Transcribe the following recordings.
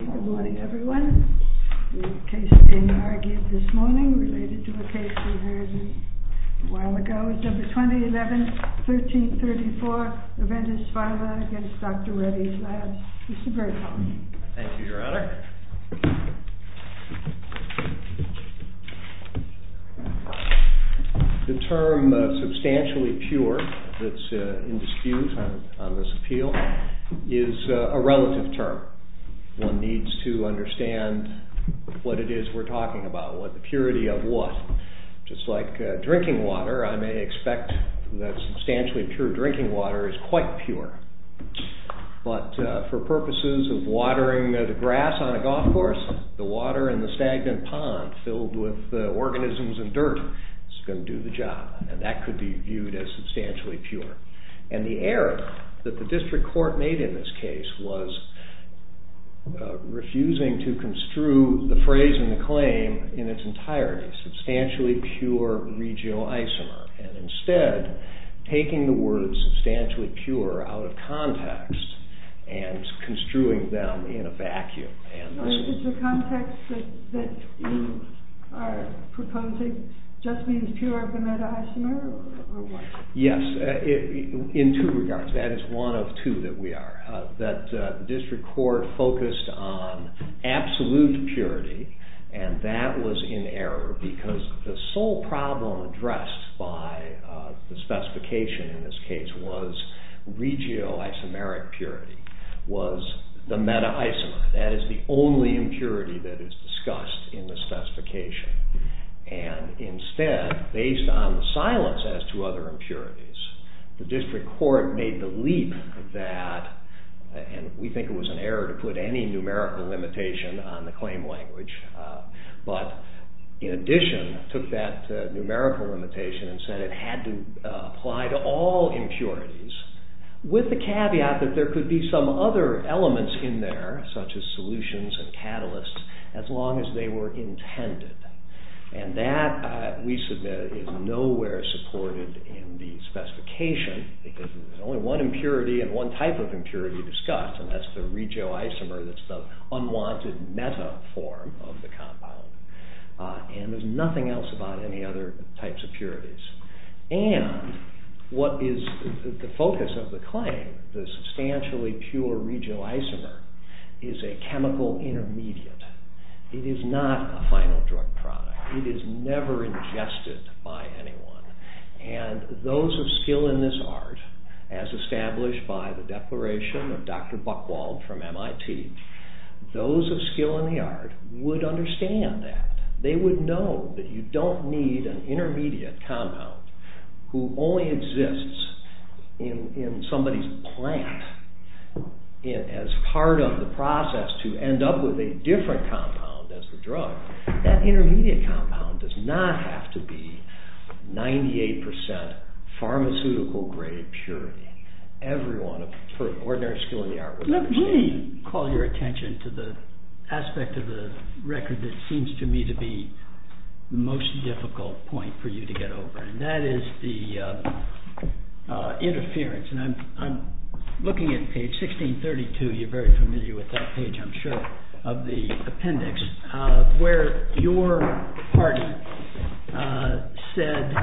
Good morning, everyone. The case being argued this morning related to a case we heard a while ago. It's number 2011-13-34, Aventis Pharma v. Dr. Reddys Labs. Mr. Berghoff. Thank you, Your Honor. The term substantially pure that's in dispute on this appeal is a relative term. One needs to understand what it is we're talking about, the purity of what. Just like drinking water, I may expect that substantially pure drinking water is quite pure. But for purposes of watering the grass on a golf course, the water in the stagnant pond filled with organisms and dirt is going to do the job. And that could be viewed as substantially pure. And the error that the district court made in this case was refusing to construe the phrase and the claim in its entirety, substantially pure regional isomer, and instead taking the word substantially pure out of context and construing them in a vacuum. It's a context that you are proposing just means pure of the meta-isomer? Yes, in two regards. That is one of two that we are. The district court focused on absolute purity and that was in error because the sole problem addressed by the specification in this case was regio-isomeric purity, was the meta-isomer. That is the only impurity that is discussed in the specification. And instead, based on the silence as to other impurities, the district court made the leap that, and we think it was an error to put any numerical limitation on the claim language, but in addition took that numerical limitation and said it had to apply to all impurities with the caveat that there could be some other elements in there such as solutions and catalysts as long as they were intended. And that, we submit, is nowhere supported in the specification because there's only one impurity and one type of impurity discussed and that's the regio-isomer that's the unwanted meta-form of the compound. And there's nothing else about any other types of purities. And what is the focus of the claim, the substantially pure regio-isomer, is a chemical intermediate. It is not a final drug product. It is never ingested by anyone. And those of skill in this art, as established by the declaration of Dr. Buchwald from MIT, those of skill in the art would understand that. They would know that you don't need an intermediate compound who only exists in somebody's plant as part of the process to end up with a different compound as the drug. That intermediate compound does not have to be 98% pharmaceutical grade purity. Everyone of ordinary skill in the art would understand that. Let me call your attention to the aspect of the record that seems to me to be the most difficult point for you to get over and that is the interference. And I'm looking at page 1632. You're very familiar with that page, I'm sure, of the appendix where your party said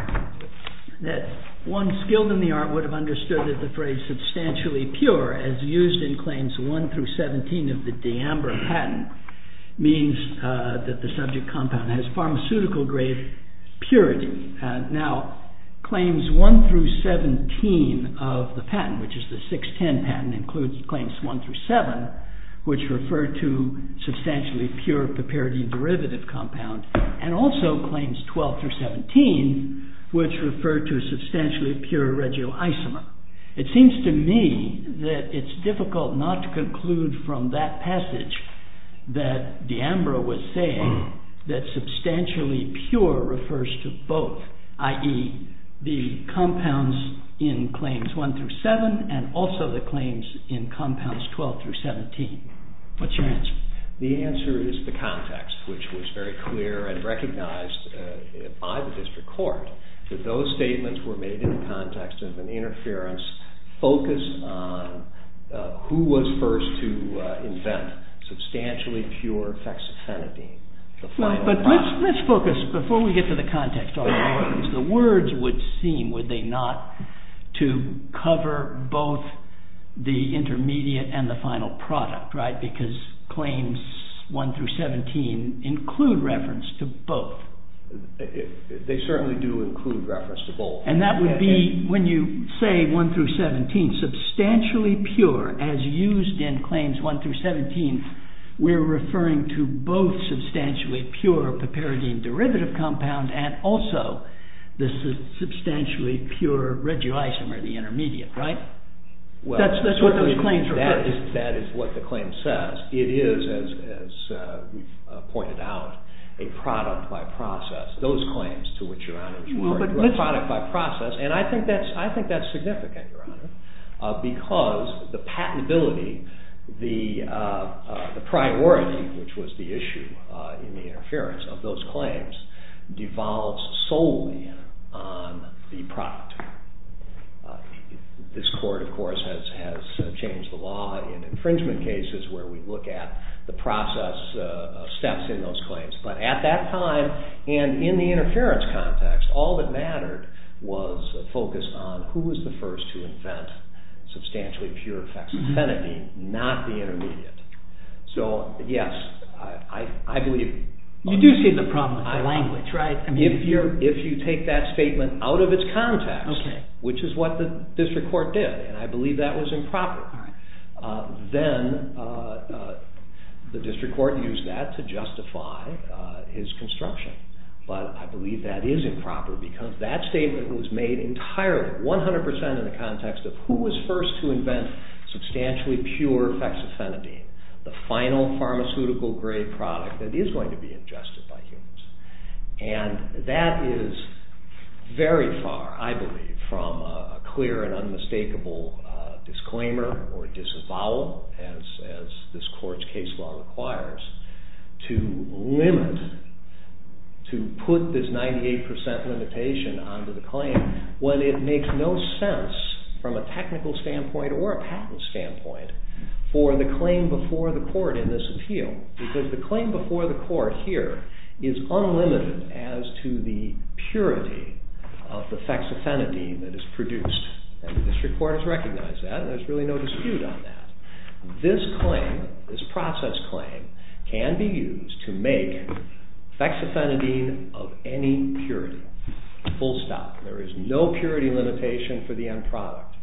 that one skilled in the art would have understood that the phrase substantially pure as used in claims 1 through 17 of the D'Ambra patent means that the subject compound has pharmaceutical grade purity. Now, claims 1 through 17 of the patent, which is the 610 patent, includes claims 1 through 7, which refer to substantially pure papiridine derivative compound and also claims 12 through 17, which refer to substantially pure regioisomer. It seems to me that it's difficult not to conclude from that passage that D'Ambra was saying that substantially pure refers to both, i.e. the compounds in claims 1 through 7 and also the claims in compounds 12 through 17. What's your answer? The answer is the context, which was very clear and recognized by the district court that those statements were made in the context of an interference focused on who was first to invent substantially pure fexofenadine. But let's focus, before we get to the context, the words would seem, would they not, to cover both the intermediate and the final product, because claims 1 through 17 include reference to both. They certainly do include reference to both. And that would be, when you say 1 through 17, substantially pure, as used in claims 1 through 17, we're referring to both substantially pure papiridine derivative compound and also the substantially pure regulisomer, the intermediate, right? That's what those claims refer to. That is what the claim says. It is, as we've pointed out, a product by process. Those claims, to which Your Honor is referring, were a product by process, and I think that's significant, Your Honor, because the patentability, the priority, which was the issue in the interference, of those claims devolves solely on the product. This court, of course, has changed the law in infringement cases where we look at the process steps in those claims. But at that time, and in the interference context, all that mattered was a focus on who was the first to invent substantially pure hexaphenidine, not the intermediate. So, yes, I believe... You do see the problem with the language, right? If you take that statement out of its context, which is what the district court did, and I believe that was improper, then the district court used that to justify his construction. But I believe that is improper because that statement was made entirely, 100% in the context of who was first to invent substantially pure hexaphenidine, the final pharmaceutical-grade product that is going to be ingested by humans. And that is very far, I believe, from a clear and unmistakable disclaimer or disavowal, as this court's case law requires, to limit, to put this 98% limitation onto the claim when it makes no sense from a technical standpoint or a patent standpoint for the claim before the court in this appeal. Because the claim before the court here is unlimited as to the purity of the hexaphenidine that is produced. And the district court has recognized that and there's really no dispute on that. This claim, this process claim, can be used to make hexaphenidine of any purity, full stop. There is no purity limitation for the end product.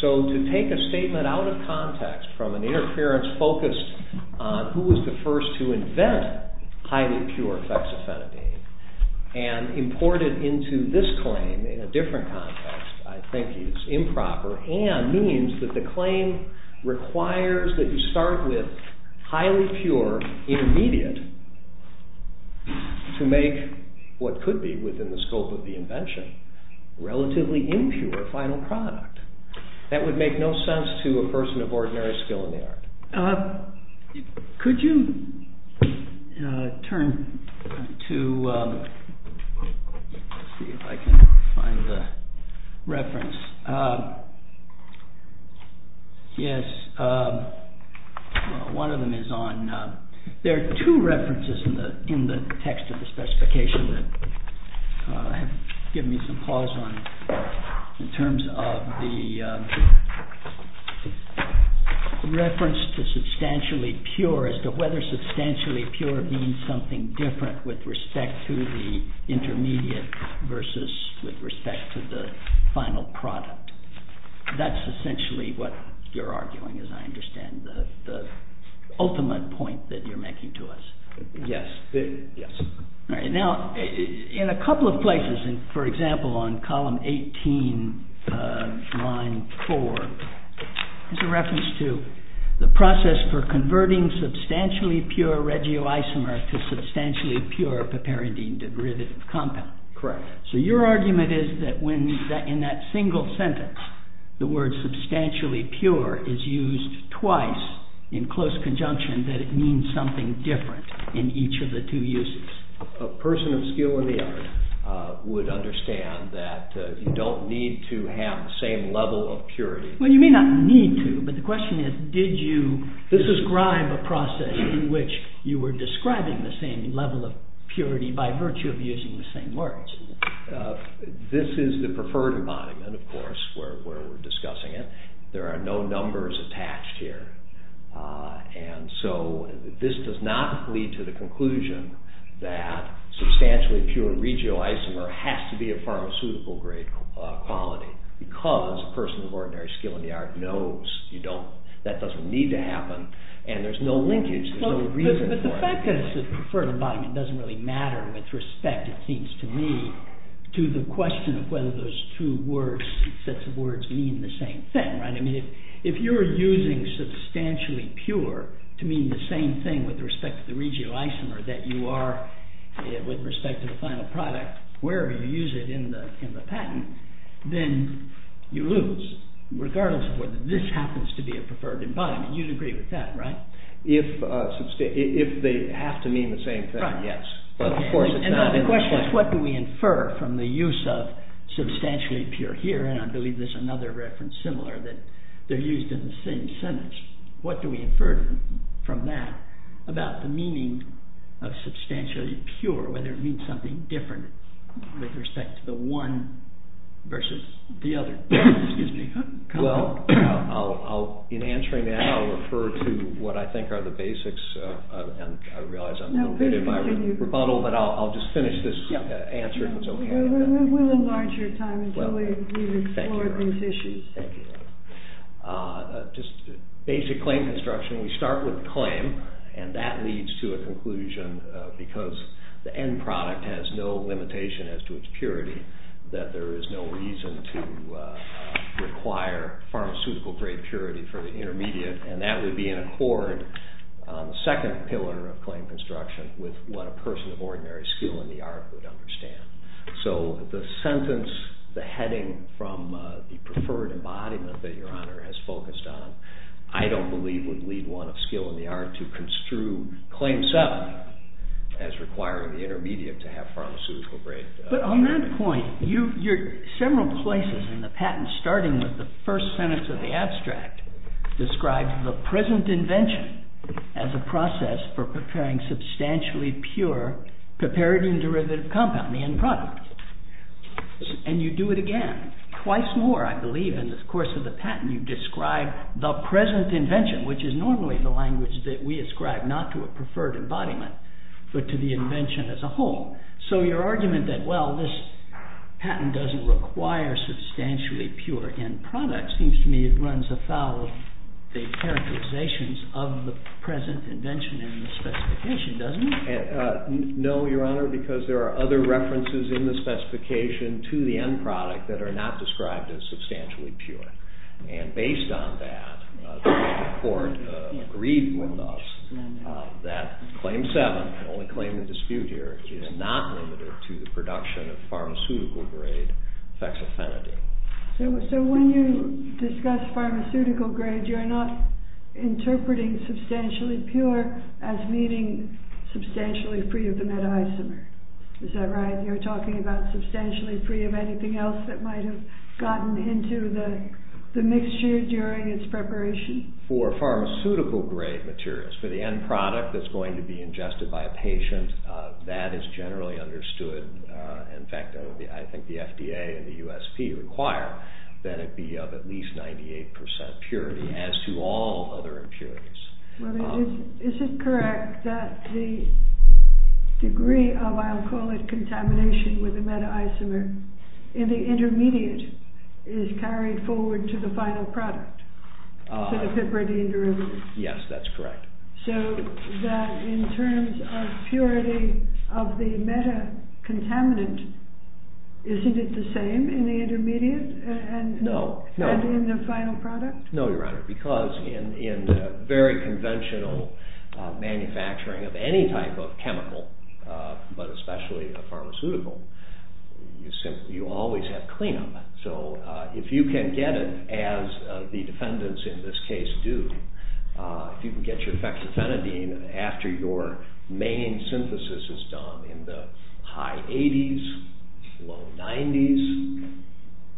So to take a statement out of context from an interference focused on who was the first to invent highly pure hexaphenidine and import it into this claim in a different context, I think is improper and means that the claim requires that you start with highly pure intermediate to make what could be within the scope of the invention relatively impure final product. That would make no sense to a person of ordinary skill Could you turn to let's see if I can find the reference yes one of them is on there are two references in the text of the specification that have given me some pause on in terms of the reference to substantially pure as to whether substantially pure means something different with respect to the intermediate versus with respect to the final product. That's essentially what you're arguing as I understand the ultimate point that you're making to us. Yes. Now in a couple of places for example on column 18 line 4 is a reference to the process for converting substantially pure regio-isomer to substantially pure paparendine derivative compound. Correct. So your argument is that when in that single sentence the word substantially pure is used twice in close conjunction that it means something different in each of the two uses. A person of skill in the art would understand that you don't need to have the same level of purity. Well you may not need to, but the question is did you describe a process in which you were describing the same level of purity by virtue of using the same words. This is the preferred embodiment of course where we're discussing it. There are no numbers attached here. And so this does not lead to the conclusion that substantially pure regio-isomer has to be a pharmaceutical grade quality because a person of ordinary skill in the art knows that doesn't need to happen and there's no linkage, there's no reason for it. But the fact that it's the preferred embodiment doesn't really matter with respect it seems to me to the question of whether those two sets of words mean the same thing. If you're using substantially pure to mean the same thing with respect to the regio-isomer that you are with respect to the final product wherever you use it in the patent, then you lose regardless of whether this happens to be a preferred embodiment. You'd agree with that, right? If they have to mean the same thing, yes. The question is what do we infer from the use of substantially pure here and I believe there's another reference similar that they're used in the same sentence. What do we infer from that about the meaning of substantially pure whether it means something different with respect to the one versus the other. Excuse me. In answering that I'll refer to what I think are the basics and I realize I'm a little bit in my rebuttal but I'll just finish this answer if it's okay. We'll enlarge your time until we've explored these issues. Thank you. Just basic claim construction. We start with claim and that leads to a conclusion because the end product has no limitation as to its purity that there is no reason to require pharmaceutical grade purity for the intermediate and that would be in accord on the second pillar of claim construction with what a person of ordinary skill in the art would understand. The sentence, the heading from the preferred embodiment that your honor has focused on I don't believe would lead one of skill in the art to construe claim seven as requiring the intermediate to have pharmaceutical grade purity. But on that point several places in the patent starting with the first sentence of the abstract describes the present invention as a process for preparing substantially pure, prepared in derivative compound, the end product. And you do it again twice more I believe in the course of the patent you describe the present invention which is normally the preferred embodiment but to the invention as a whole. So your argument that well this patent doesn't require substantially pure end product seems to me it runs afoul of the characterizations of the present invention in the specification doesn't it? No your honor because there are other references in the specification to the end product that are not described as substantially pure. And based on that the court agreed with us that claim seven, the only claim in dispute here, is not limited to the production of pharmaceutical grade fexofenadine. So when you discuss pharmaceutical grade you're not interpreting substantially pure as meaning substantially free of the meta isomer. Is that right? You're talking about substantially free of anything else that might have gotten into the mixture during its preparation? For pharmaceutical grade materials, for the end product that's going to be ingested by a patient that is generally understood in fact I think the FDA and the USP require that it be of at least 98% purity as to all other impurities. Is it correct that the degree of I'll call it contamination with the meta isomer in the intermediate is carried forward to the final product? Yes, that's correct. So that in terms of purity of the meta contaminant isn't it the same in the intermediate and in the final product? No, Your Honor, because in very conventional manufacturing of any type of chemical, but especially a pharmaceutical, you always have clean up. So if you can get it as the defendants in this case do, if you can get your hexafenadine after your main synthesis is done in the high 80s, low 90s,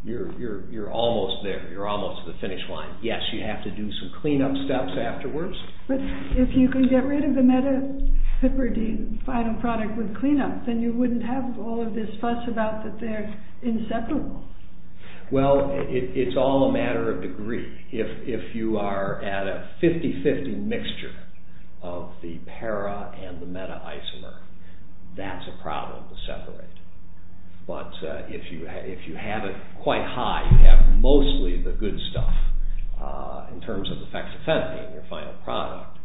you're almost there, you're almost to the finish line. Yes, you have to do some clean up steps afterwards. But if you can get rid of the meta product with clean up, then you wouldn't have all of this fuss about that they're inseparable. Well, it's all a matter of degree. If you are at a 50-50 mixture of the para and the meta isomer, that's a problem to separate. But if you have it quite high, you have mostly the good stuff in terms of hexafenadine in your final product,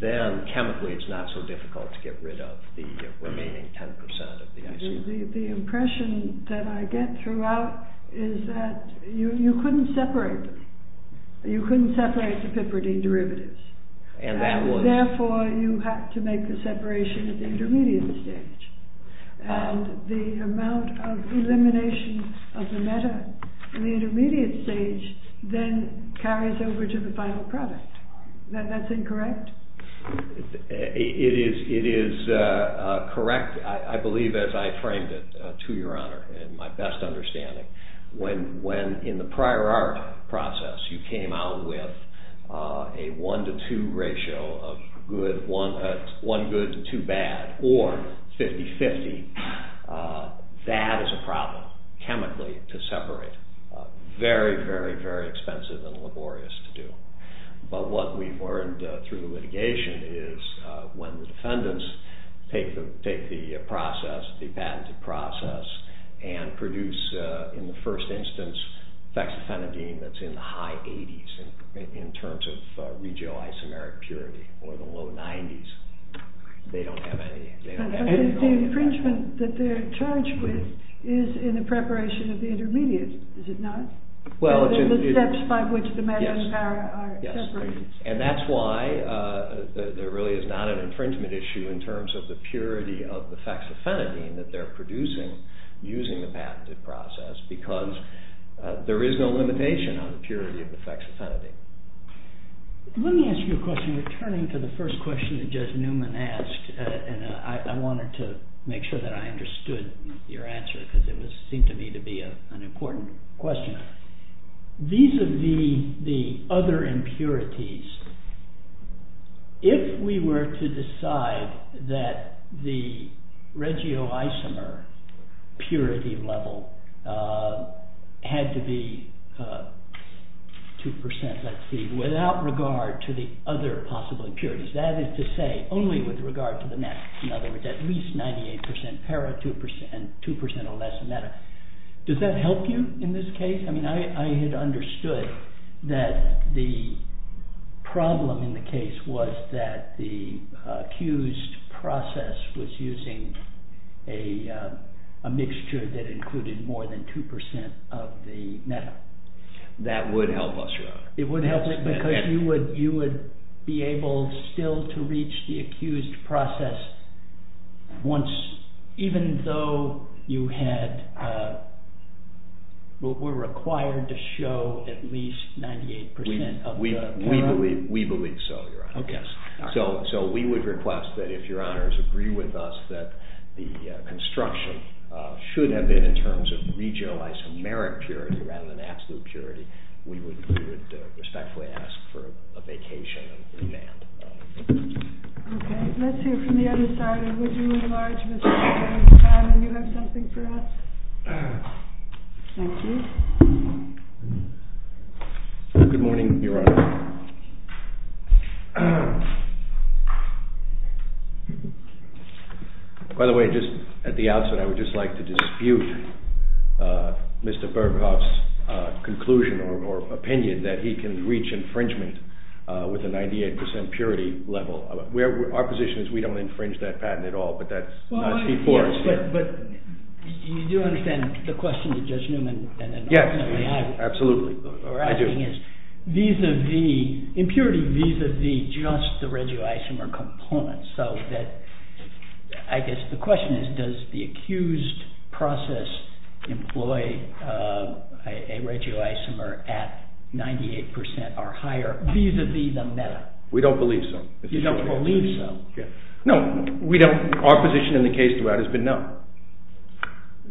then chemically it's not so difficult to get rid of the remaining 10% of the isomer. The impression that I get throughout is that you couldn't separate them. You couldn't separate the piperidine derivatives. Therefore, you have to make the separation at the intermediate stage. And the amount of elimination of the meta in the intermediate stage then carries over to the final product. That's incorrect? It is correct, I believe as I framed it, to your honor in my best understanding. When in the prior art process you came out with a 1 to 2 ratio of one good to two bad, or 50-50, that is a problem, chemically, to separate. Very, very, very expensive and laborious to do. But what we learned through litigation is when the defendants take the process, the patented process, and produce in the first instance fexofenadine that's in the high 80s in terms of regio-isomeric purity or the low 90s, they don't have any. The infringement that they're charged with is in the preparation of the intermediate, is it not? The steps by which the meta and para are separated. And that's why there really is not an infringement issue in terms of the purity of the fexofenadine that they're producing using the patented process, because there is no limitation on the purity of the fexofenadine. Let me ask you a question returning to the first question that Judge Newman asked, and I wanted to make sure that I understood your answer, because it seemed to me to be an important question. Vis-a-vis the other impurities, if we were to decide that the regio-isomer purity level had to be 2%, let's see, without regard to the other possible impurities, that is to say only with regard to the meta, in other words, at least 98% para and 2% or less meta, does that help you in this case? I had understood that the problem in the case was that the accused process was using a mixture that included more than 2% of the meta. That would help us. Because you would be able still to reach the accused process once, even though you had were required to show at least 98% of the para? We believe so, Your Honor. So we would request that if Your Honors agree with us that the construction should have been in terms of regio-isomeric purity rather than absolute purity, we would respectfully ask for a vacation and remand. Okay, let's hear from the other side and would you enlarge, Mr. Berghoff, and you have something for us? Thank you. Good morning, Your Honor. By the way, just at the outset, I would just like to dispute Mr. Berghoff's conclusion or opinion that he can reach infringement with a 98% purity level. Our position is we don't But you do understand the question that Judge Newman and I were asking is vis-a-vis, impurity vis-a-vis just the regio-isomeric components, so that I guess the question is does the accused process employ a regio-isomer at 98% or higher vis-a-vis the meta? We don't believe so. You don't believe so? No, we don't. Our position in the case throughout has been no.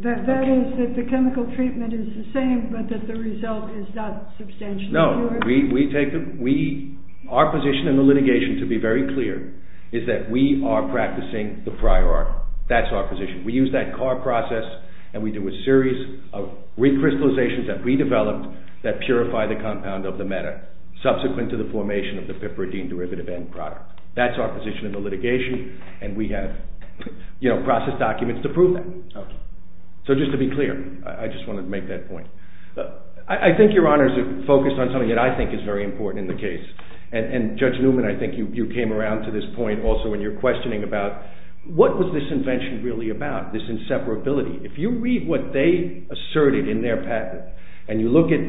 That is, that the chemical treatment is the same, but that the result is not substantially No, we take the Our position in the litigation, to be very clear, is that we are practicing the prior art. That's our position. We use that car process and we do a series of recrystallizations that we developed that purify the compound of the meta subsequent to the formation of the litigation and we have processed documents to prove that. So just to be clear, I just wanted to make that point. I think your honors are focused on something that I think is very important in the case and Judge Newman, I think you came around to this point also when you're questioning about what was this invention really about, this inseparability. If you read what they asserted in their patent and you look at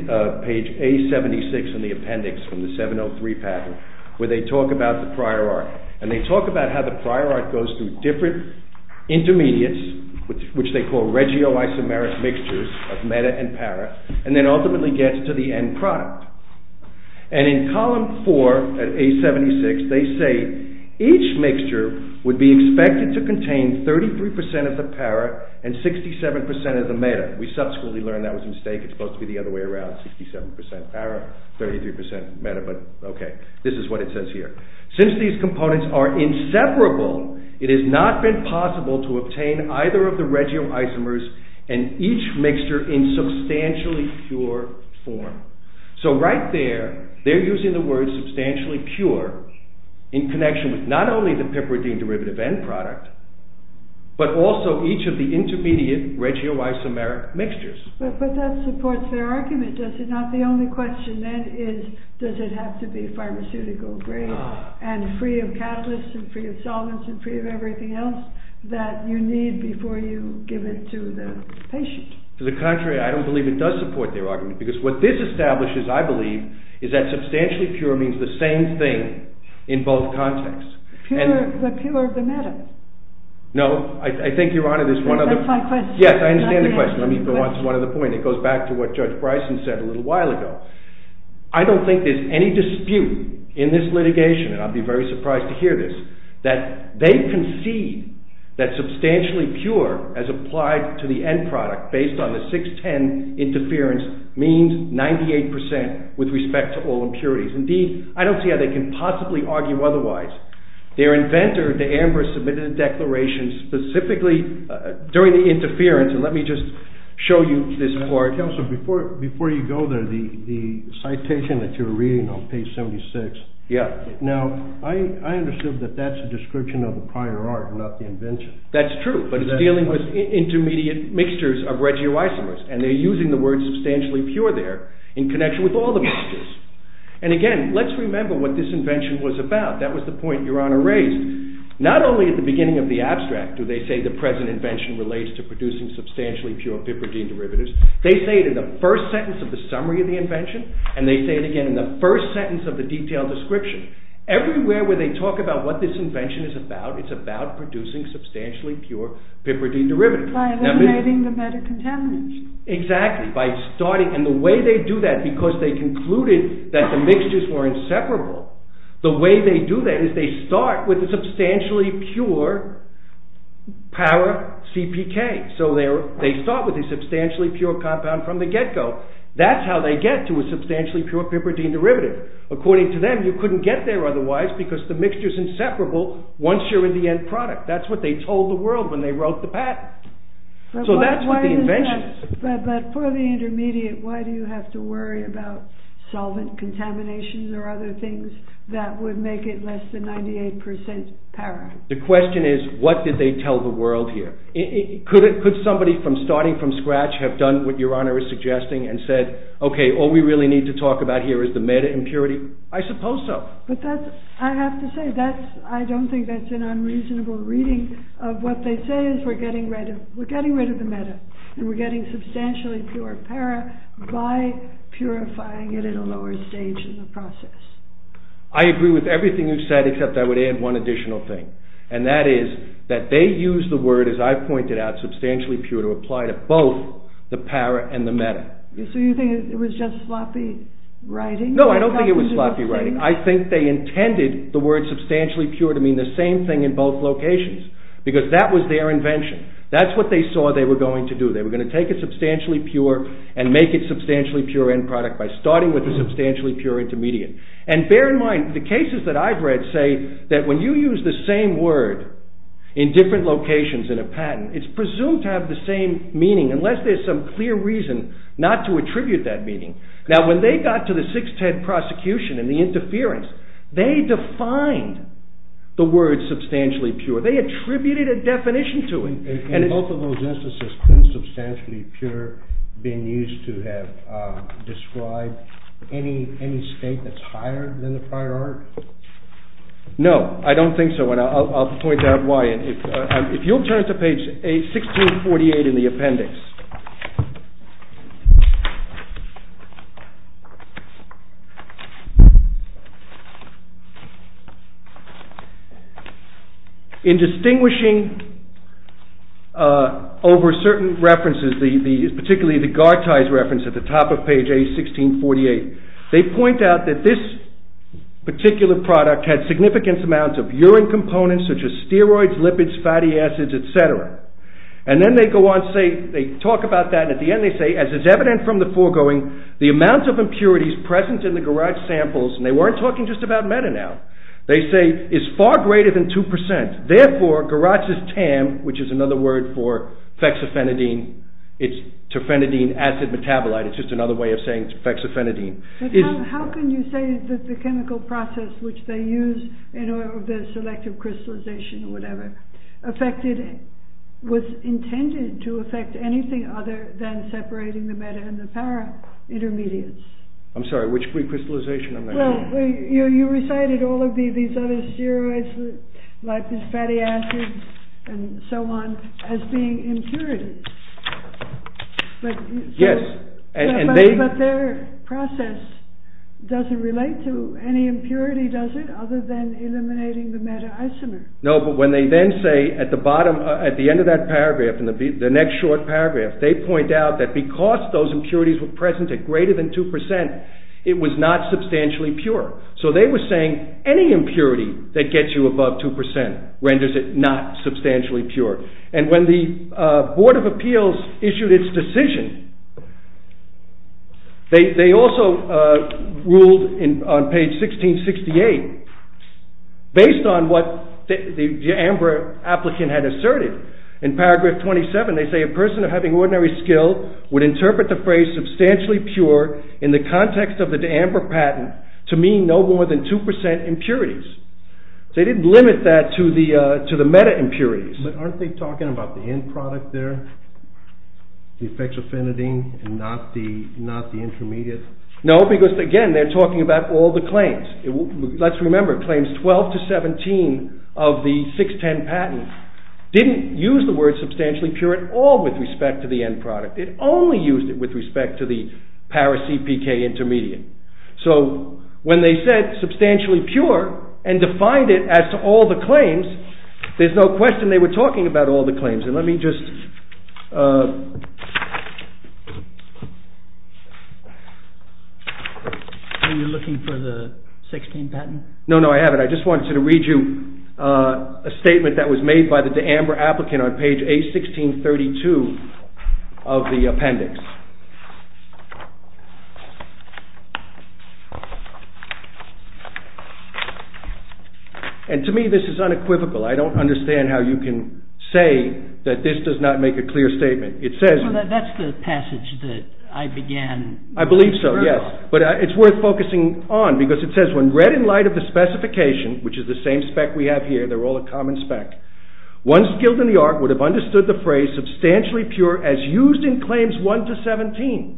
page A76 in the appendix from the 703 patent, where they talk about the prior art, and they talk about how the prior art goes through different intermediates, which they call regio-isomeric mixtures of meta and para, and then ultimately gets to the end product. And in column 4 at A76, they say each mixture would be expected to contain 33% of the para and 67% of the meta. We subsequently learned that was a mistake. It's supposed to be the other way around, 67% para, 33% meta, but this is what it says here. Since these components are inseparable, it has not been possible to obtain either of the regio-isomers and each mixture in substantially pure form. So right there they're using the word substantially pure in connection with not only the piperidine derivative end product, but also each of the intermediate regio-isomeric mixtures. But that supports their argument, does it not? The only question then is, does it have to be pharmaceutical grade and free of catalysts and free of solvents and free of everything else that you need before you give it to the patient. To the contrary, I don't believe it does support their argument, because what this establishes, I believe, is that substantially pure means the same thing in both contexts. The pure of the meta. No, I think Your Honor, there's one other... That's my question. Yes, I understand the question. Let me go on to one other point. It goes back to what Judge I don't think there's any dispute in this litigation, and I'll be very surprised to hear this, that they concede that substantially pure as applied to the end product based on the 610 interference means 98% with respect to all impurities. Indeed, I don't see how they can possibly argue otherwise. Their inventor, de Amber, submitted a declaration specifically during the interference, and let me just show you this part. Counselor, before you go there, the citation that you're reading on page 76, now, I understood that that's a description of the prior art, not the invention. That's true, but it's dealing with intermediate mixtures of regioisomers, and they're using the word substantially pure there in connection with all the mixtures. And again, let's remember what this invention was about. That was the point Your Honor raised. Not only at the beginning of the abstract do they say the present invention relates to producing substantially pure piperidine derivatives, they say it in the first sentence of the summary of the invention, and they say it again in the first sentence of the detailed description. Everywhere where they talk about what this invention is about, it's about producing substantially pure piperidine derivatives. By eliminating the metacontaminants. Exactly. And the way they do that, because they concluded that the mixtures were inseparable, the way they do that is they start with a substantially pure power CPK. So they start with a substantially pure compound from the get-go. That's how they get to a substantially pure piperidine derivative. According to them, you couldn't get there otherwise because the mixture's inseparable once you're in the end product. That's what they told the world when they wrote the patent. So that's what the invention is. But for the intermediate, why do you have to worry about solvent contaminations or other things that would make it less than 98% para? The question is what did they tell the world here? Could somebody from starting from scratch have done what Your Honor is suggesting and said, okay, all we really need to talk about here is the meta impurity? I suppose so. But that's, I have to say, that's, I don't think that's an unreasonable reading of what they say is we're getting rid of the meta and we're getting substantially pure para by purifying it at a lower stage in the process. I agree with everything you've said except I would add one additional thing and that is that they use the word, as I've pointed out, substantially pure to apply to both the para and the meta. So you think it was just sloppy writing? No, I don't think it was sloppy writing. I think they intended the word substantially pure to mean the same thing in both locations because that was their invention. That's what they saw they were going to do. They were going to take a substantially pure and make it substantially pure end product by starting with a substantially pure intermediate. And bear in mind, the cases that I've read say that when you use the same word in different locations in a patent, it's presumed to have the same meaning unless there's some clear reason not to attribute that meaning. Now when they got to the 610 prosecution and the interference they defined the word substantially pure. They attributed a definition to it. In both of those instances, substantially pure being used to have described any state that's in the prior art. No, I don't think so and I'll point out why. If you'll turn to page 1648 in the appendix. In distinguishing over certain references, particularly the Gartai's reference at the top of page 1648, they point out that this particular product had significant amounts of urine components such as steroids, lipids, fatty acids, etc. And then they go on to talk about that and at the end they say as is evident from the foregoing, the amount of impurities present in the Gartai samples, and they weren't talking just about Meta now, they say is far greater than 2%. Therefore, Gartai's TAM, which is another word for fexofenadine, it's terfenadine acid metabolite. It's just another way of saying fexofenadine. But how can you say that the chemical process which they use in the selective crystallization or whatever, was intended to affect anything other than separating the Meta and the Para intermediates? I'm sorry, which pre-crystallization am I talking about? Well, you recited all of these other steroids, lipids, fatty acids, and so on, as being impurities. Yes. But their process doesn't relate to any impurity, does it? Other than eliminating the Meta isomer. No, but when they then say at the bottom, at the end of that paragraph, in the next short paragraph, they point out that because those impurities were present at greater than 2%, it was not substantially pure. So they were saying any impurity that gets you above 2% renders it not substantially pure. And when the Board of Appeals issued its decision, they also ruled on page 1668, based on what the AMBER applicant had asserted. In paragraph 27, they say, a person of having ordinary skill would interpret the phrase substantially pure in the context of the AMBER patent to mean no more than 2% impurities. They didn't limit that to the Meta impurities. But aren't they talking about the end product there? The effects of phenidine and not the intermediate? No, because again, they're talking about all the claims. Let's remember, claims 12 to 17 of the 610 patent didn't use the word substantially pure at all with respect to the end product. It only used it with respect to the ParacPK intermediate. So, when they said substantially pure and defined it as to all the claims, there's no question they were talking about all the claims. I just wanted to read you a statement that was made by the AMBER applicant on page A1632 of the appendix. And to me, this is unequivocal. I don't understand how you can say that this does not make a clear statement. It says... That's the passage that I began. I believe so, yes. But it's worth focusing on because it says, when read in light of the specification, which is the same spec we have here, they're all a common spec, the phrase substantially pure as used in claims 1 to 17 of the AMBER patent.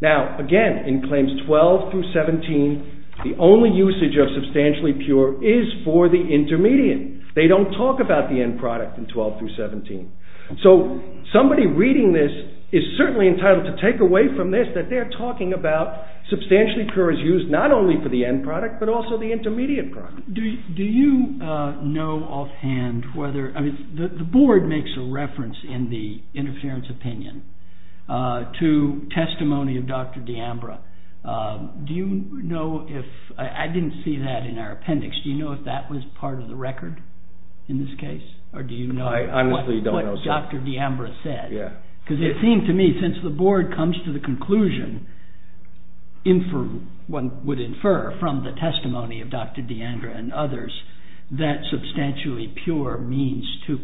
Now, again, in claims 12 through 17, the only usage of substantially pure is for the intermediate. They don't talk about the end product in 12 through 17. So, somebody reading this is certainly entitled to take away from this that they're talking about substantially pure as used not only for the end product, but also the intermediate product. Do you know offhand whether... I mean, the board makes a reference in the testimony of Dr. D'Ambra. Do you know if... I didn't see that in our appendix. Do you know if that was part of the record in this case? Or do you know what Dr. D'Ambra said? Because it seemed to me, since the board comes to the conclusion one would infer from the testimony of Dr. D'Ambra and others that substantially pure means 2%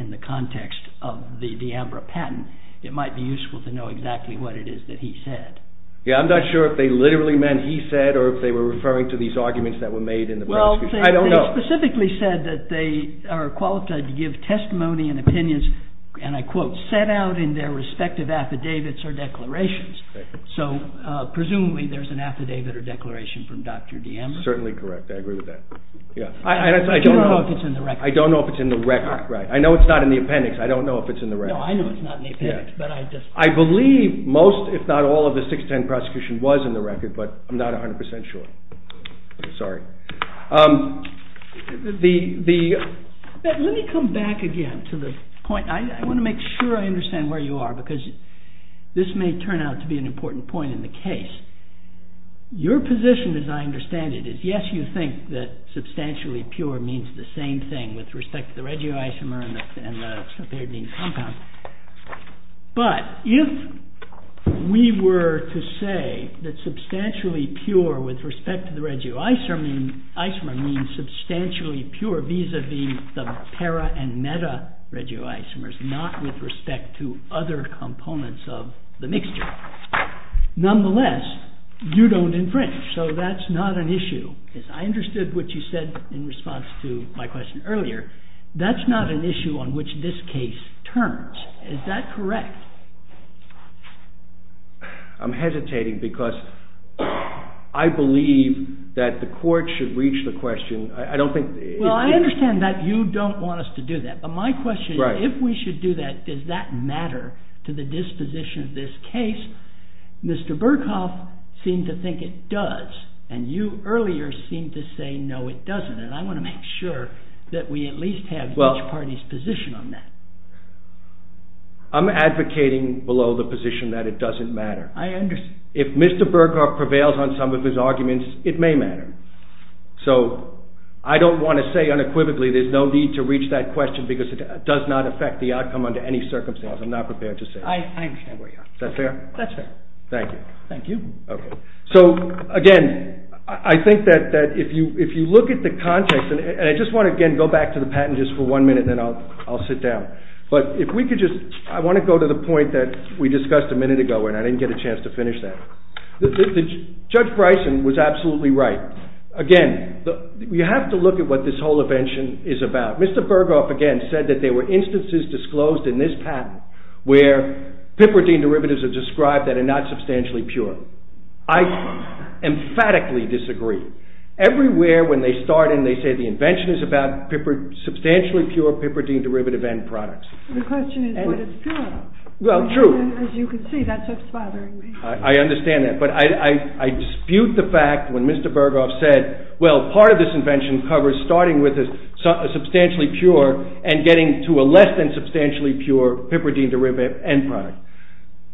in the context of the D'Ambra patent. It might be useful to know exactly what it is that he said. I'm not sure if they literally meant he said or if they were referring to these arguments that were made in the... I don't know. They specifically said that they are qualified to give testimony and opinions and I quote, set out in their respective affidavits or declarations. So, presumably there's an affidavit or declaration from Dr. D'Ambra. Certainly correct. I agree with that. I don't know if it's in the record. I don't know if it's in the record. I know it's not in the appendix. I don't know if it's in the record. I know it's not in the appendix. I believe most if not all of the 610 prosecution was in the record but I'm not 100% sure. Sorry. Let me come back again to the point. I want to make sure I understand where you are because this may turn out to be an important point in the case. Your position as I understand it is yes, you think that substantially pure means the same thing with respect to the hexapyridine compound but if we were to say that substantially pure with respect to the regioisomer means substantially pure vis-a-vis the para and meta regioisomers, not with respect to other components of the mixture. Nonetheless, you don't infringe so that's not an issue. I understood what you said in response to my question earlier. That's not an issue on which this case turns. Is that correct? I'm hesitating because I believe that the court should reach the question. I understand that you don't want us to do that but my question is if we should do that, does that matter to the disposition of this case? Mr. Burkhoff seemed to think it does and you earlier seemed to say no it doesn't and I want to make sure that we at least have each party's position on that. I'm advocating below the position that it doesn't matter. I understand. If Mr. Burkhoff prevails on some of his arguments it may matter. I don't want to say unequivocally there's no need to reach that question because it does not affect the outcome under any circumstances. I'm not prepared to say that. I understand where you are. Is that fair? That's fair. Thank you. Thank you. Again, I think that if you look at the context and I just want to again go back to the patent just for one minute and then I'll sit down but if we could just, I want to go to the point that we discussed a minute ago and I didn't get a chance to finish that. Judge Bryson was absolutely right. Again, you have to look at what this whole invention is about. Mr. Burkhoff again said that there were instances disclosed in this patent where piperidine derivatives are described that are not substantially pure. I emphatically disagree. Everywhere when they start and they say the invention is about substantially pure piperidine derivative end products. The question is what it's pure of. Well, true. As you can see, that's what's bothering me. I understand that, but I dispute the fact when Mr. Burkhoff said, well, part of this invention covers starting with a substantially pure and getting to a less than substantially pure piperidine derivative end product.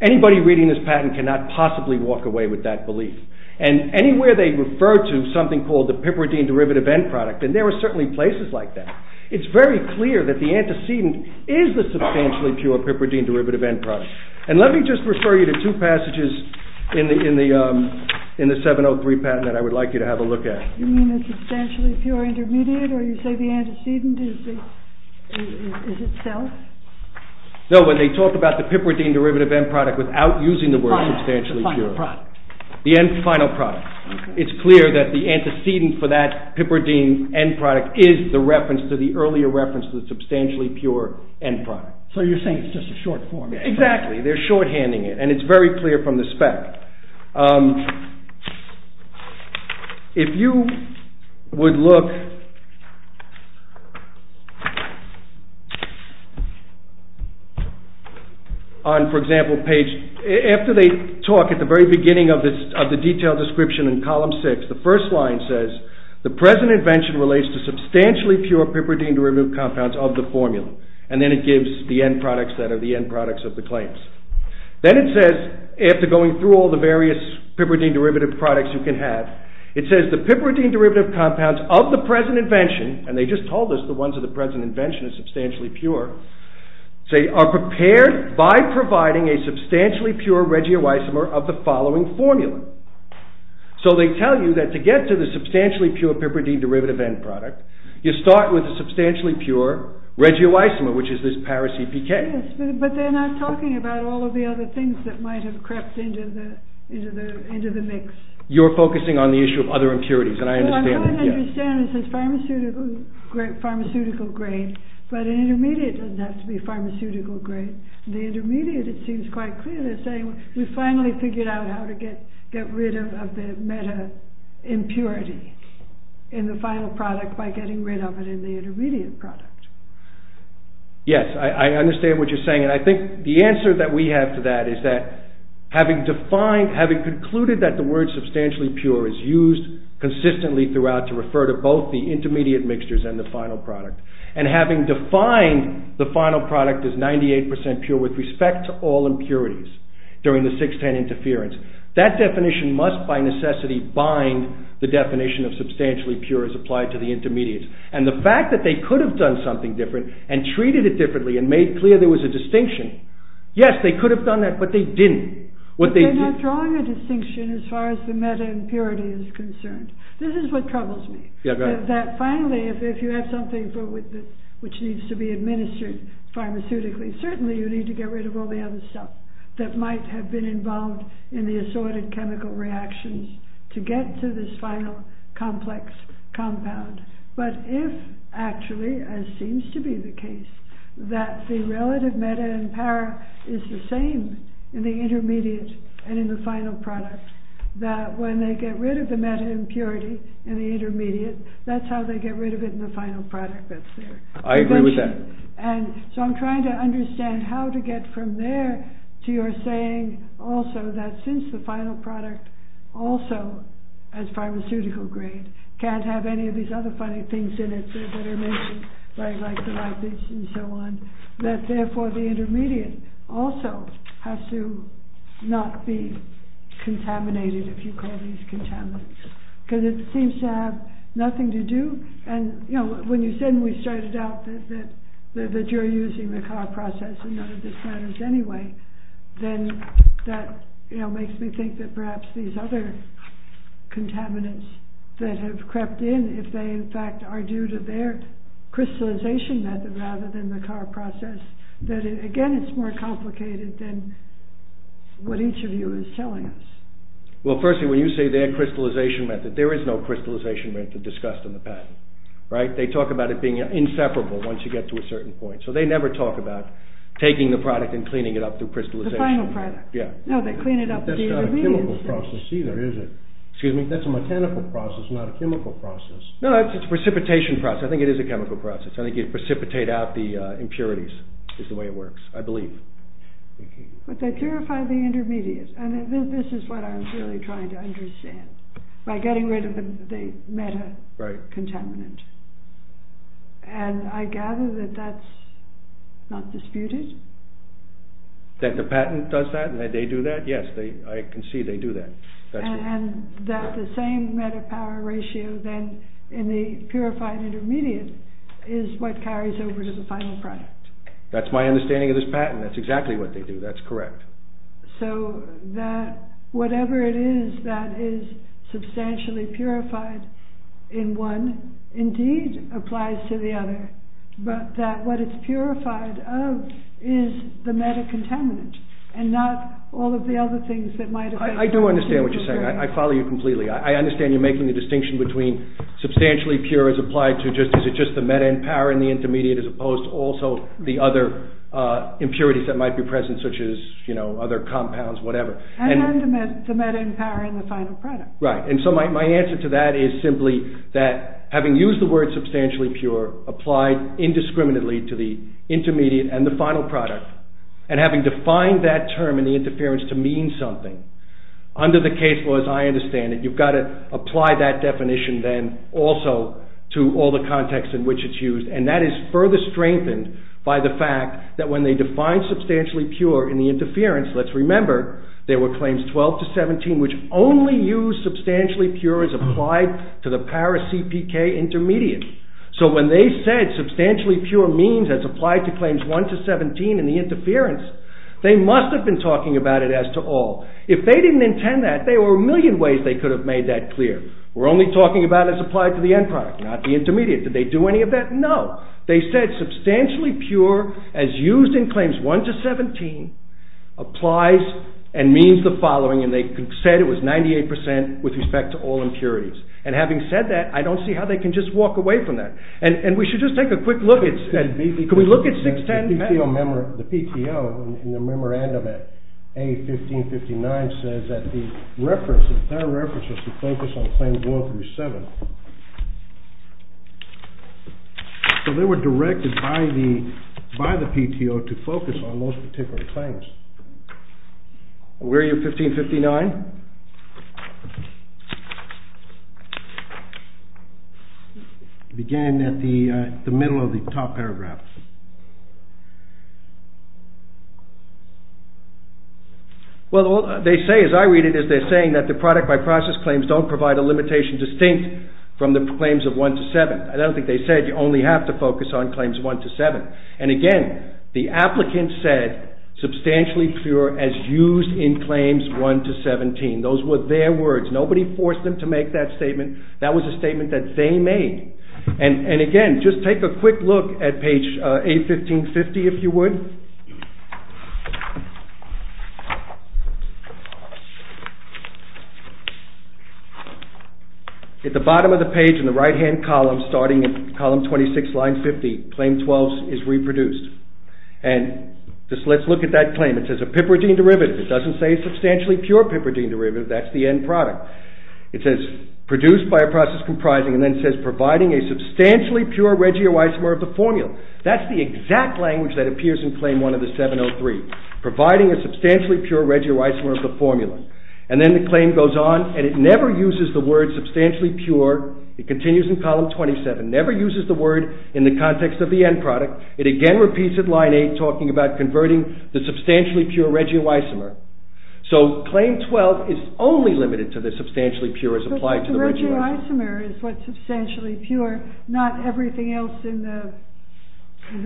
Anybody reading this patent cannot possibly walk away with that belief. Anywhere they refer to something called the piperidine derivative end product, and there are certainly places like that, it's very clear that the antecedent is the substantially pure piperidine derivative end product. Let me just refer you to two passages in the 703 patent that I would like you to have a look at. You mean the substantially pure intermediate or you say the antecedent is itself? No, when they talk about the piperidine derivative end product without using the word substantially pure. The final product. It's clear that the antecedent for that piperidine end product is the reference to the earlier reference to the substantially pure end product. So you're saying it's just a short form. Exactly. They're shorthanding it, and it's very clear from the spec. If you would look on, for example, page, after they talk at the very beginning of the detailed description in column 6, the first line says, the present invention relates to substantially pure piperidine derivative compounds of the formula, and then it gives the end products that are the end products of the claims. Then it says, after going through all the various piperidine derivative products you can have, it says the piperidine derivative compounds of the present invention, and they say they just told us the ones of the present invention are substantially pure, are prepared by providing a substantially pure regioisomer of the following formula. So they tell you that to get to the substantially pure piperidine derivative end product, you start with a substantially pure regioisomer, which is this paracPK. Yes, but they're not talking about all of the other things that mix. You're focusing on the issue of other impurities, and I understand that. I don't understand, it says pharmaceutical grade, but an intermediate doesn't have to be pharmaceutical grade. The intermediate, it seems quite clear, they're saying, we finally figured out how to get rid of the meta-impurity in the final product by getting rid of it in the intermediate product. Yes, I understand what you're saying, and I think the answer that we have to that is that having defined, having concluded that the word substantially pure is used consistently throughout to refer to both the intermediate mixtures and the final product, and having defined the final product as 98% pure with respect to all impurities during the 6-10 interference, that definition must by necessity bind the definition of substantially pure as applied to the intermediates. And the fact that they could have done something different and treated it differently and made clear there was a distinction, yes, they could have done that, but they didn't. But they're not drawing a distinction as far as the meta-impurity is concerned. This is what troubles me. That finally, if you have something which needs to be administered pharmaceutically, certainly you need to get rid of all the other stuff that might have been involved in the assorted chemical reactions to get to this final complex compound. But if actually, as seems to be the case, that the relative meta and para is the same in the intermediate and in the final product, that when they get rid of the meta-impurity in the intermediate, that's how they get rid of it in the final product that's there. I agree with that. So I'm trying to understand how to get from there to your saying also that since the final product also as pharmaceutical grade can't have any of these other funny things in it that are mentioned, like the lipids and so on, that therefore the intermediate also has to not be contaminated, if you call these contaminants. Because it seems to have nothing to do and when you said when we started out that you're using the car process and none of this matters anyway, then that makes me think that perhaps these other contaminants that have crept in, if they in fact are due to their crystallization rather than the car process, that again it's more complicated than what each of you is telling us. Well firstly, when you say their crystallization method, there is no crystallization method discussed in the patent. Right? They talk about it being inseparable once you get to a certain point. So they never talk about taking the product and cleaning it up through crystallization. The final product. Yeah. No, they clean it up in the intermediate. That's not a chemical process either, is it? Excuse me? That's a mechanical process, not a chemical process. No, it's a precipitation process. I think it is a chemical process. I think you precipitate out the impurities, is the way it works, I believe. But they purify the intermediate, and this is what I'm really trying to understand, by getting rid of the meta-contaminant. And I gather that that's not disputed? That the patent does that, that they do that? Yes, I can see they do that. And that the same meta-power ratio then in the purified intermediate is what carries over to the final product. That's my understanding of this patent. That's exactly what they do. That's correct. So that whatever it is that is substantially purified in one, indeed, applies to the other. But that what it's purified of is the meta- contaminant, and not all of the other things that might affect... I do understand what you're saying. I follow you completely. I understand you're making the distinction between is it just the meta-power in the intermediate as opposed to also the other impurities that might be present, such as other compounds, whatever. And the meta-power in the final product. Right. And so my answer to that is simply that having used the word substantially pure, applied indiscriminately to the intermediate and the final product, and having defined that term in the interference to mean something, under the case laws I understand it, you've got to apply that definition then also to all the contexts in which it's used. And that is further strengthened by the fact that when they define substantially pure in the interference, let's remember there were claims 12 to 17 which only use substantially pure as applied to the para-CPK intermediate. So when they said substantially pure means as applied to claims 1 to 17 in the interference, they must have been talking about it as to all. If they didn't intend that, there were a million ways they could have made that clear. We're only talking about as applied to the end product, not the intermediate. Did they do any of that? No. They said substantially pure as used in claims 1 to 17 applies and means the following, and they said it was 98% with respect to all impurities. And having said that, I don't see how they can just walk away from that. And we should just take a quick look. Can we look at 610? The PTO in the memorandum at A1559 says that their reference was to focus on claims 1 through 7. So they were directed by the PTO to focus on those particular claims. Where are you A1559? Begin at the middle of the top paragraph. Well, they say, as I read it, they're saying that the product by process claims don't provide a limitation distinct from the claims of 1 to 7. I don't think they said you only have to focus on claims 1 to 7. And again, the applicant said substantially pure as used in claims 1 to 17. Those were their words. Nobody forced them to make that statement. That was a statement that they made. And again, just take a quick look at page A1550, if you would. At the bottom of the page in the right-hand column starting at column 26, line 50, claim 12 is reproduced. And just let's look at that claim. It says a piperidine derivative. It doesn't say a substantially pure piperidine derivative. That's the end product. It says produced by a process comprising and then says providing a substantially pure regioisomer of the formula. That's the exact language that appears in claim 1 of the 703. Providing a substantially pure regioisomer of the formula. And then the claim goes on and it never uses the word substantially pure. It continues in column 27. Never uses the word in the context of the end product. It again repeats at line 8 talking about converting the substantially pure regioisomer. So claim 12 is only limited to the substantially pure as applied to the regioisomer. The regioisomer is what substantially pure not everything else in the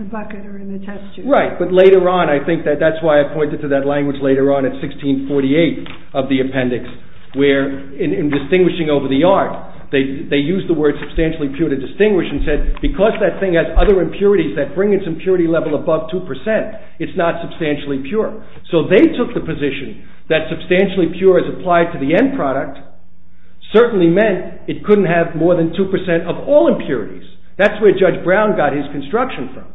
bucket or in the test tube. Right, but later on I think that that's why I pointed to that language later on at 1648 of the appendix where in distinguishing over the art, they used the word substantially pure to distinguish and said because that thing has other impurities that bring its impurity level above 2%, it's not substantially pure. So they took the position that substantially pure as applied to the end product certainly meant it couldn't have more than 2% of all impurities. That's where Judge Brown got his construction from.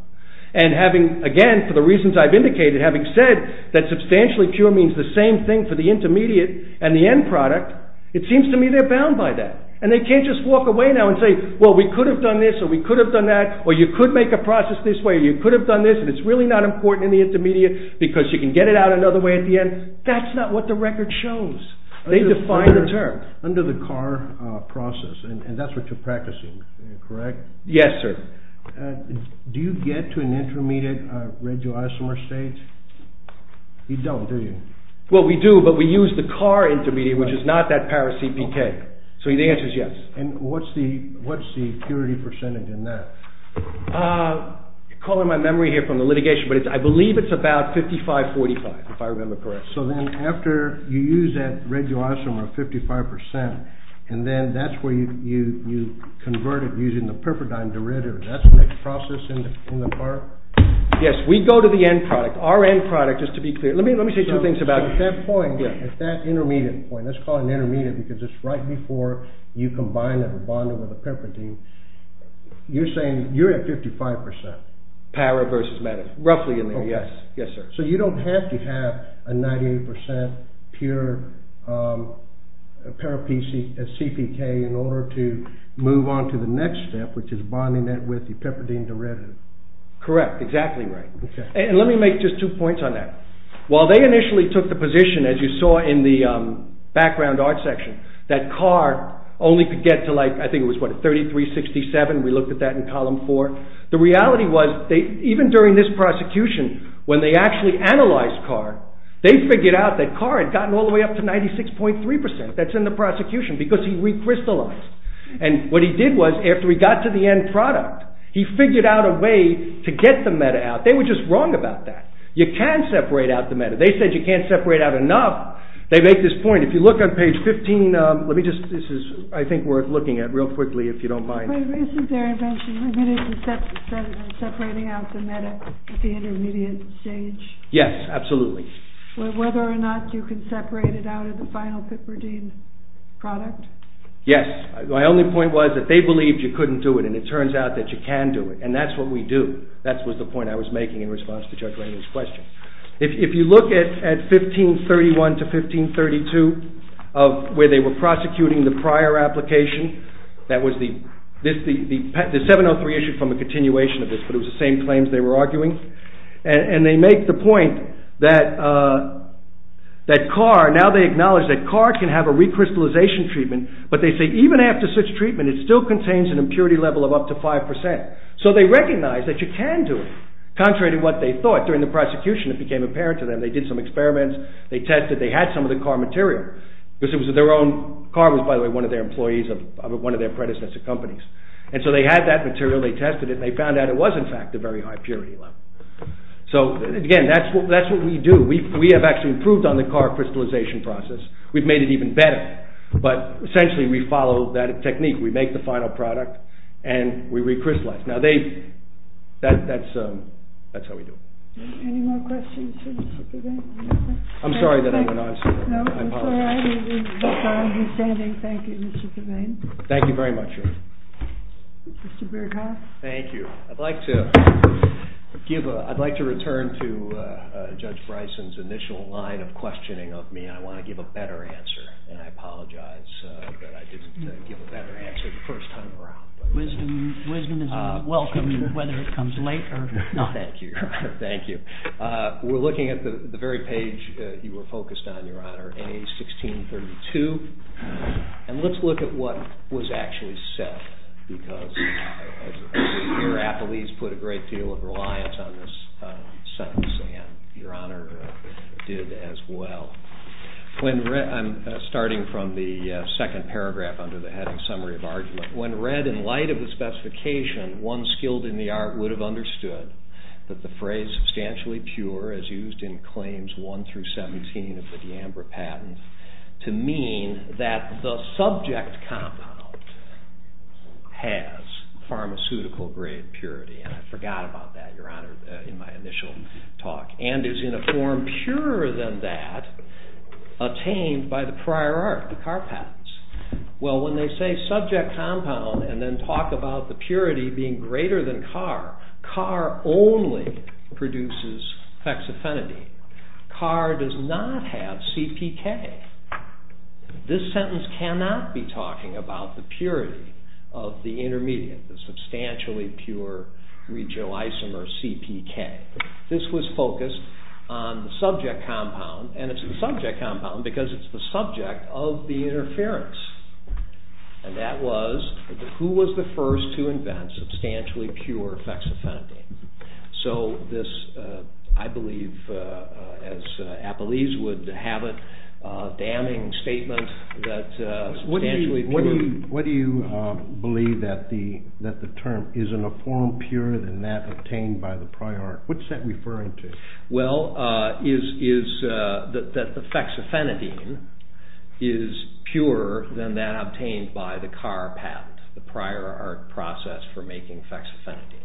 And having, again for the reasons I've indicated, having said that substantially pure means the same thing for the intermediate and the end product it seems to me they're bound by that. And they can't just walk away now and say well we could have done this or we could have done that or you could make a process this way or you could have done this and it's really not important in the intermediate because you can get it out another way at the end. That's not what the record shows. They define the term. Under the CAR process and that's what you're practicing, correct? Yes, sir. Do you get to an intermediate radioisomer state? You don't, do you? Well we do, but we use the CAR intermediate which is not that power CPK. So the answer is yes. And what's the purity percentage in that? Ah, calling my memory here from the litigation, but I believe it's about 55-45 if I remember correctly. So then after you use that radioisomer at 55% and then that's where you convert it using the perpidine derivative, that's the next process in the CAR? Yes, we go to the end product. Our end product, just to be clear let me say two things about it. At that intermediate point, let's call it an intermediate because it's right before you combine it or bond it with a perpidine you're saying you're at 55%. Para versus meta. Roughly in there, yes. So you don't have to have a 98% pure para PC CPK in order to move on to the next step, which is bonding that with the perpidine derivative. Correct, exactly right. And let me make just two points on that. While they initially took the position, as you saw in the background art section, that CAR only could get to like, I think it was what, 33-67, we looked at that in column 4. The reality was, even during this prosecution, when they actually analyzed CAR, they figured out that CAR had gotten all the way up to 96.3%, that's in the prosecution because he recrystallized. And what he did was, after he got to the end product, he figured out a way to get the meta out. They were just wrong about that. You can separate out the meta. They said you can't separate out enough. They make this point. If you look on page 15, let me just, this is I think worth looking at real quickly if you don't mind. Isn't their invention limited to separating out the meta at the intermediate stage? Yes, absolutely. Whether or not you can separate it out at the final Pipperdine product? Yes. My only point was that they believed you couldn't do it, and it turns out that you can do it, and that's what we do. That was the point I was making in response to Judge Raymond's question. If you look at 1531 to 1532 of where they were prosecuting the prior application, that was the 703 issue from the continuation of this, but it was the same claims they were arguing. And they make the point that CAR, now they acknowledge that CAR can have a recrystallization treatment, but they say even after such treatment, it still contains an impurity level of up to 5%. So they recognize that you can do it, contrary to what they thought. During the prosecution, it became apparent to them. They did some experiments. They tested. They had some of the CAR material, because it was their own. CAR was, by the way, one of their employees of one of their predecessor companies, and so they had that material. They tested it, and they found out it was, in fact, a very high purity level. So, again, that's what we do. We have actually improved on the CAR crystallization process. We've made it even better, but essentially we follow that technique. We make the final product, and we recrystallize. Now they, that's how we do it. Any more questions? I'm sorry that I went on so long. No, it's all right. Thank you, Mr. Devane. Thank you very much. Mr. Berghoff. Thank you. I'd like to return to Judge Bryson's initial line of questioning of me, and I want to give a better answer. And I apologize that I didn't give a better answer the first time around. Wisdom is welcome, whether it comes late or not. Thank you. We're looking at the very page you were focused on, Your Honor, A1632. And let's look at what was actually said, because your affilies put a great deal of reliance on this sentence, and Your Honor did as well. I'm starting from the second paragraph under the heading, Summary of Argument. When read in light of the specification, one skilled in the art would have understood that the phrase substantially pure, as used in Claims I through XVII of the D'Ambra Patent, to mean that the subject compound has pharmaceutical-grade purity. And I forgot about that, Your Honor, in my initial talk. And is in a form purer than that attained by the prior art, the Carr Patents. Well, when they say subject compound and then talk about the purity being greater than Carr, Carr only produces fexofenadine. Carr does not have CpK. This sentence cannot be talking about the purity of the intermediate, the substantially pure regioisomer CpK. This was focused on the subject compound, and it's the subject compound because it's the subject of the interference. And that was, who was the first to invent substantially pure fexofenadine. So this, I believe, as Apollese would have it, a damning statement that substantially pure... What do you believe that the term is in a form purer than that obtained by the prior art? What's that referring to? Well, is that the fexofenadine is purer than that obtained by the Carr Patent, the prior art process for making fexofenadine.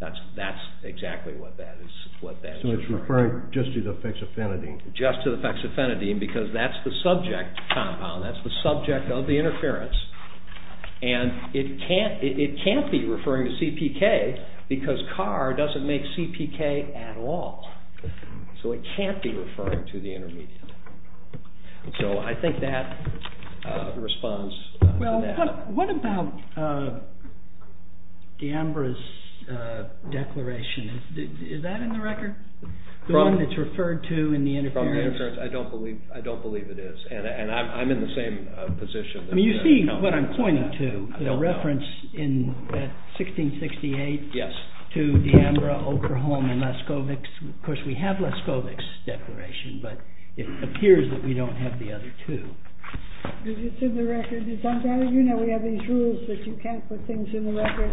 That's exactly what that is referring to. So it's referring just to the fexofenadine. Just to the fexofenadine because that's the subject compound, that's the subject of the interference, and it can't be referring to CpK because Carr doesn't make CpK at all. So it can't be referring to the intermediate. So I think that responds to that. Well, what about D'Ambra's declaration? Is that in the record? The one that's referred to in the interference? I don't believe it is. And I'm in the same position. I mean, you see what I'm pointing to. The reference in 1668 to D'Ambra, Okerholm, and Leskovick. Of course, we have Leskovick's declaration, but it appears that we don't have the other two. Is it in the record? You know we have these rules that you can't put things in the record.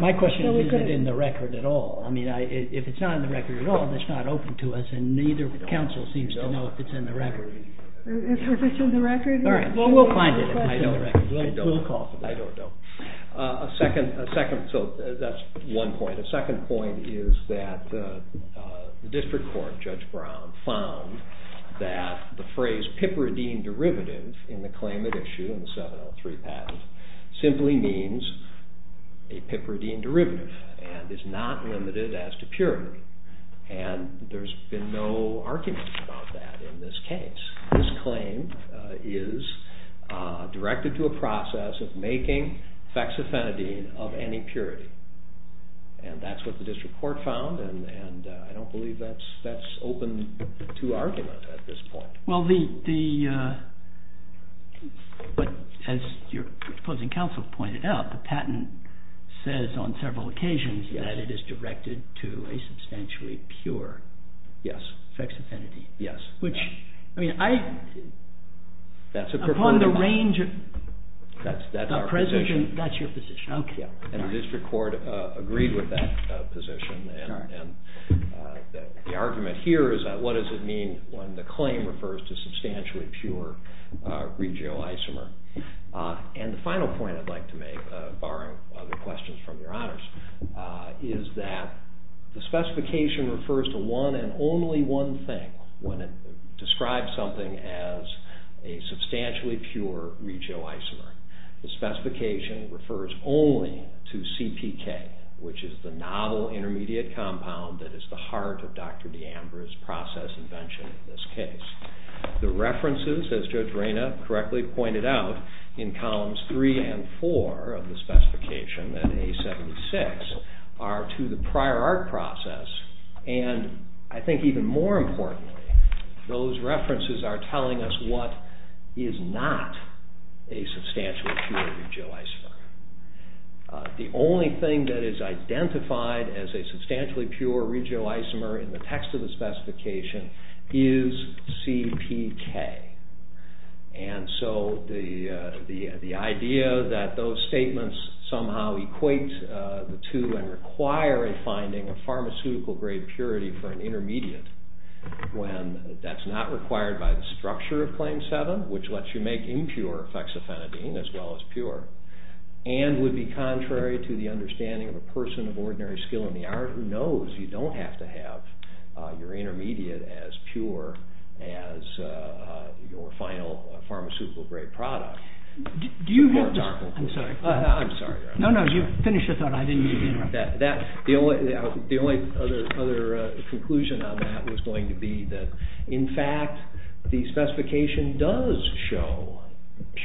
My question is is it in the record at all? If it's not in the record at all, it's not open to us, and neither council seems to know if it's in the record. Well, we'll find it if it's in the record. I don't know. So that's one point. A second point is that the district court, Judge Brown, found that the phrase piperidine derivative in the claim at issue in the 703 patent simply means a piperidine derivative and is not limited as to purity, and there's been no argument about that in this case. This claim is directed to a process of making fexofenadine of any purity, and that's what the district court found, and I don't believe that's open to argument at this point. Well, the but as your opposing counsel pointed out, the patent says on several occasions that it is directed to a substantially pure fexofenadine. Yes. Which, I mean, I upon the range of presence that's your position. And the district court agreed with that position, and the argument here is that what does it mean when the claim refers to substantially pure regioisomer? And the final point I'd like to make, borrowing other questions from your honors, is that the specification refers to one and only one thing when it describes something as a substantially pure regioisomer. The specification refers only to the intermediate compound that is the heart of Dr. DeAmbra's process invention in this case. The references, as Judge Reina correctly pointed out, in columns three and four of the specification in A-76 are to the prior art process, and I think even more importantly, those references are telling us what is not a substantial pure regioisomer. The only thing that is identified as a substantially pure regioisomer in the text of the specification is CPK. And so the idea that those statements somehow equate to and require a finding of pharmaceutical grade purity for an intermediate when that's not required by the structure of Claim 7, which lets you make impure as well as pure, and would be contrary to the understanding of a person of ordinary skill in the art who knows you don't have to have your intermediate as pure as your final pharmaceutical grade product. Do you have... I'm sorry. No, no. You finish your thought. I didn't mean to interrupt. The only other conclusion on that was going to be that in fact, the specification does show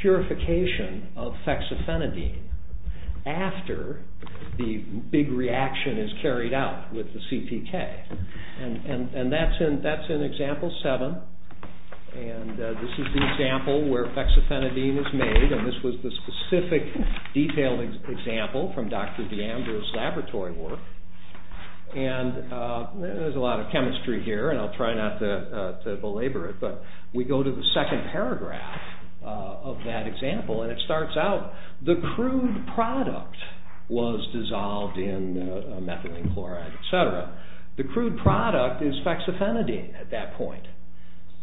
purification of fexofenadine after the big reaction is carried out with the CPK. And that's in Example 7. And this is the example where fexofenadine is made, and this was the specific detailed example from Dr. DeAndre's laboratory work. And there's a lot of chemistry here, and I'll try not to belabor it, but we go to the end of that example, and it starts out the crude product was dissolved in methylene chloride, etc. The crude product is fexofenadine at that point.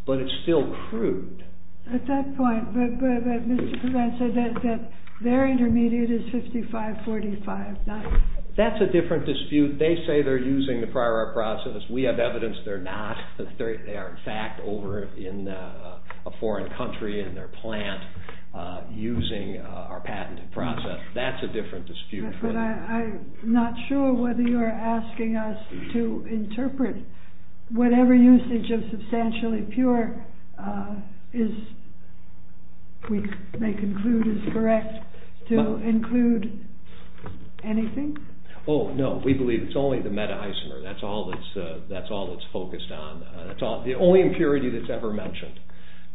But it's still crude. At that point, but Mr. Prevent said that their intermediate is 55-45. That's a different dispute. They say they're using the prior art process. We have evidence they're not. They are in fact over in a foreign country in their plant using our patent process. That's a different dispute. I'm not sure whether you're asking us to interpret whatever usage of substantially pure is we may conclude is correct to include anything? Oh, no. We believe it's only the meta-isomer. That's all that's focused on. The only impurity that's ever mentioned.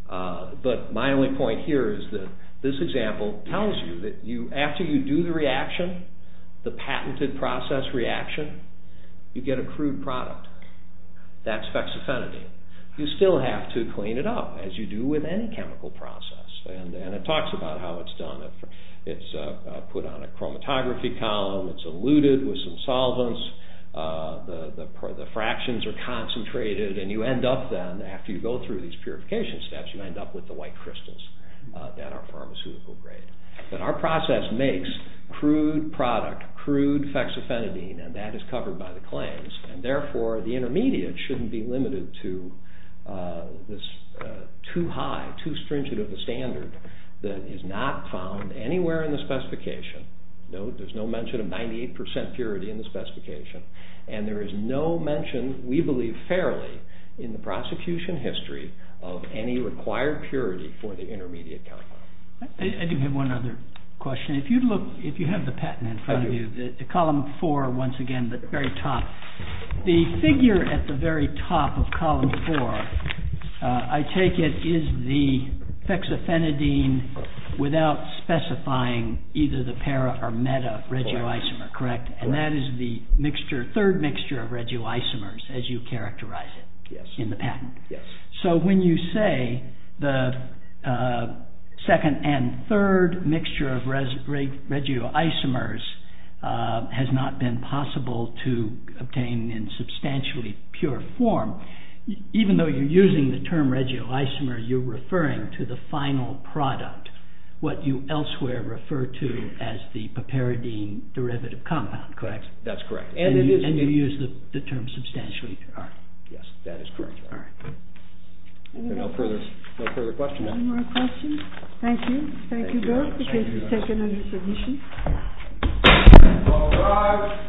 But my only point here is that this example tells you that after you do the reaction, the patented process reaction, you get a crude product. That's fexofenadine. You still have to clean it up, as you do with any chemical process. It talks about how it's done. It's put on a chromatography column. It's eluted with some solvents. The after you go through these purification steps, you end up with the white crystals that are pharmaceutical grade. Our process makes crude product, crude fexofenadine, and that is covered by the claims, and therefore the intermediate shouldn't be limited to this too high, too stringent of a standard that is not found anywhere in the specification. Note there's no mention of 98% purity in the specification, and there is no mention entirely in the prosecution history of any required purity for the intermediate chemical. I do have one other question. If you have the patent in front of you, column 4, once again, the very top, the figure at the very top of column 4, I take it is the fexofenadine without specifying either the para or meta regioisomer, correct? And that is the third mixture of regioisomers as you characterize it in the patent. So when you say the second and third mixture of regioisomers has not been possible to obtain in substantially pure form, even though you're using the term regioisomer, you're referring to the final product, what you elsewhere refer to as the papiridine derivative compound, correct? Yes, that's correct. And you use the term substantially pure. Yes, that is correct. No further questions? No more questions? Thank you. Thank you both. All rise.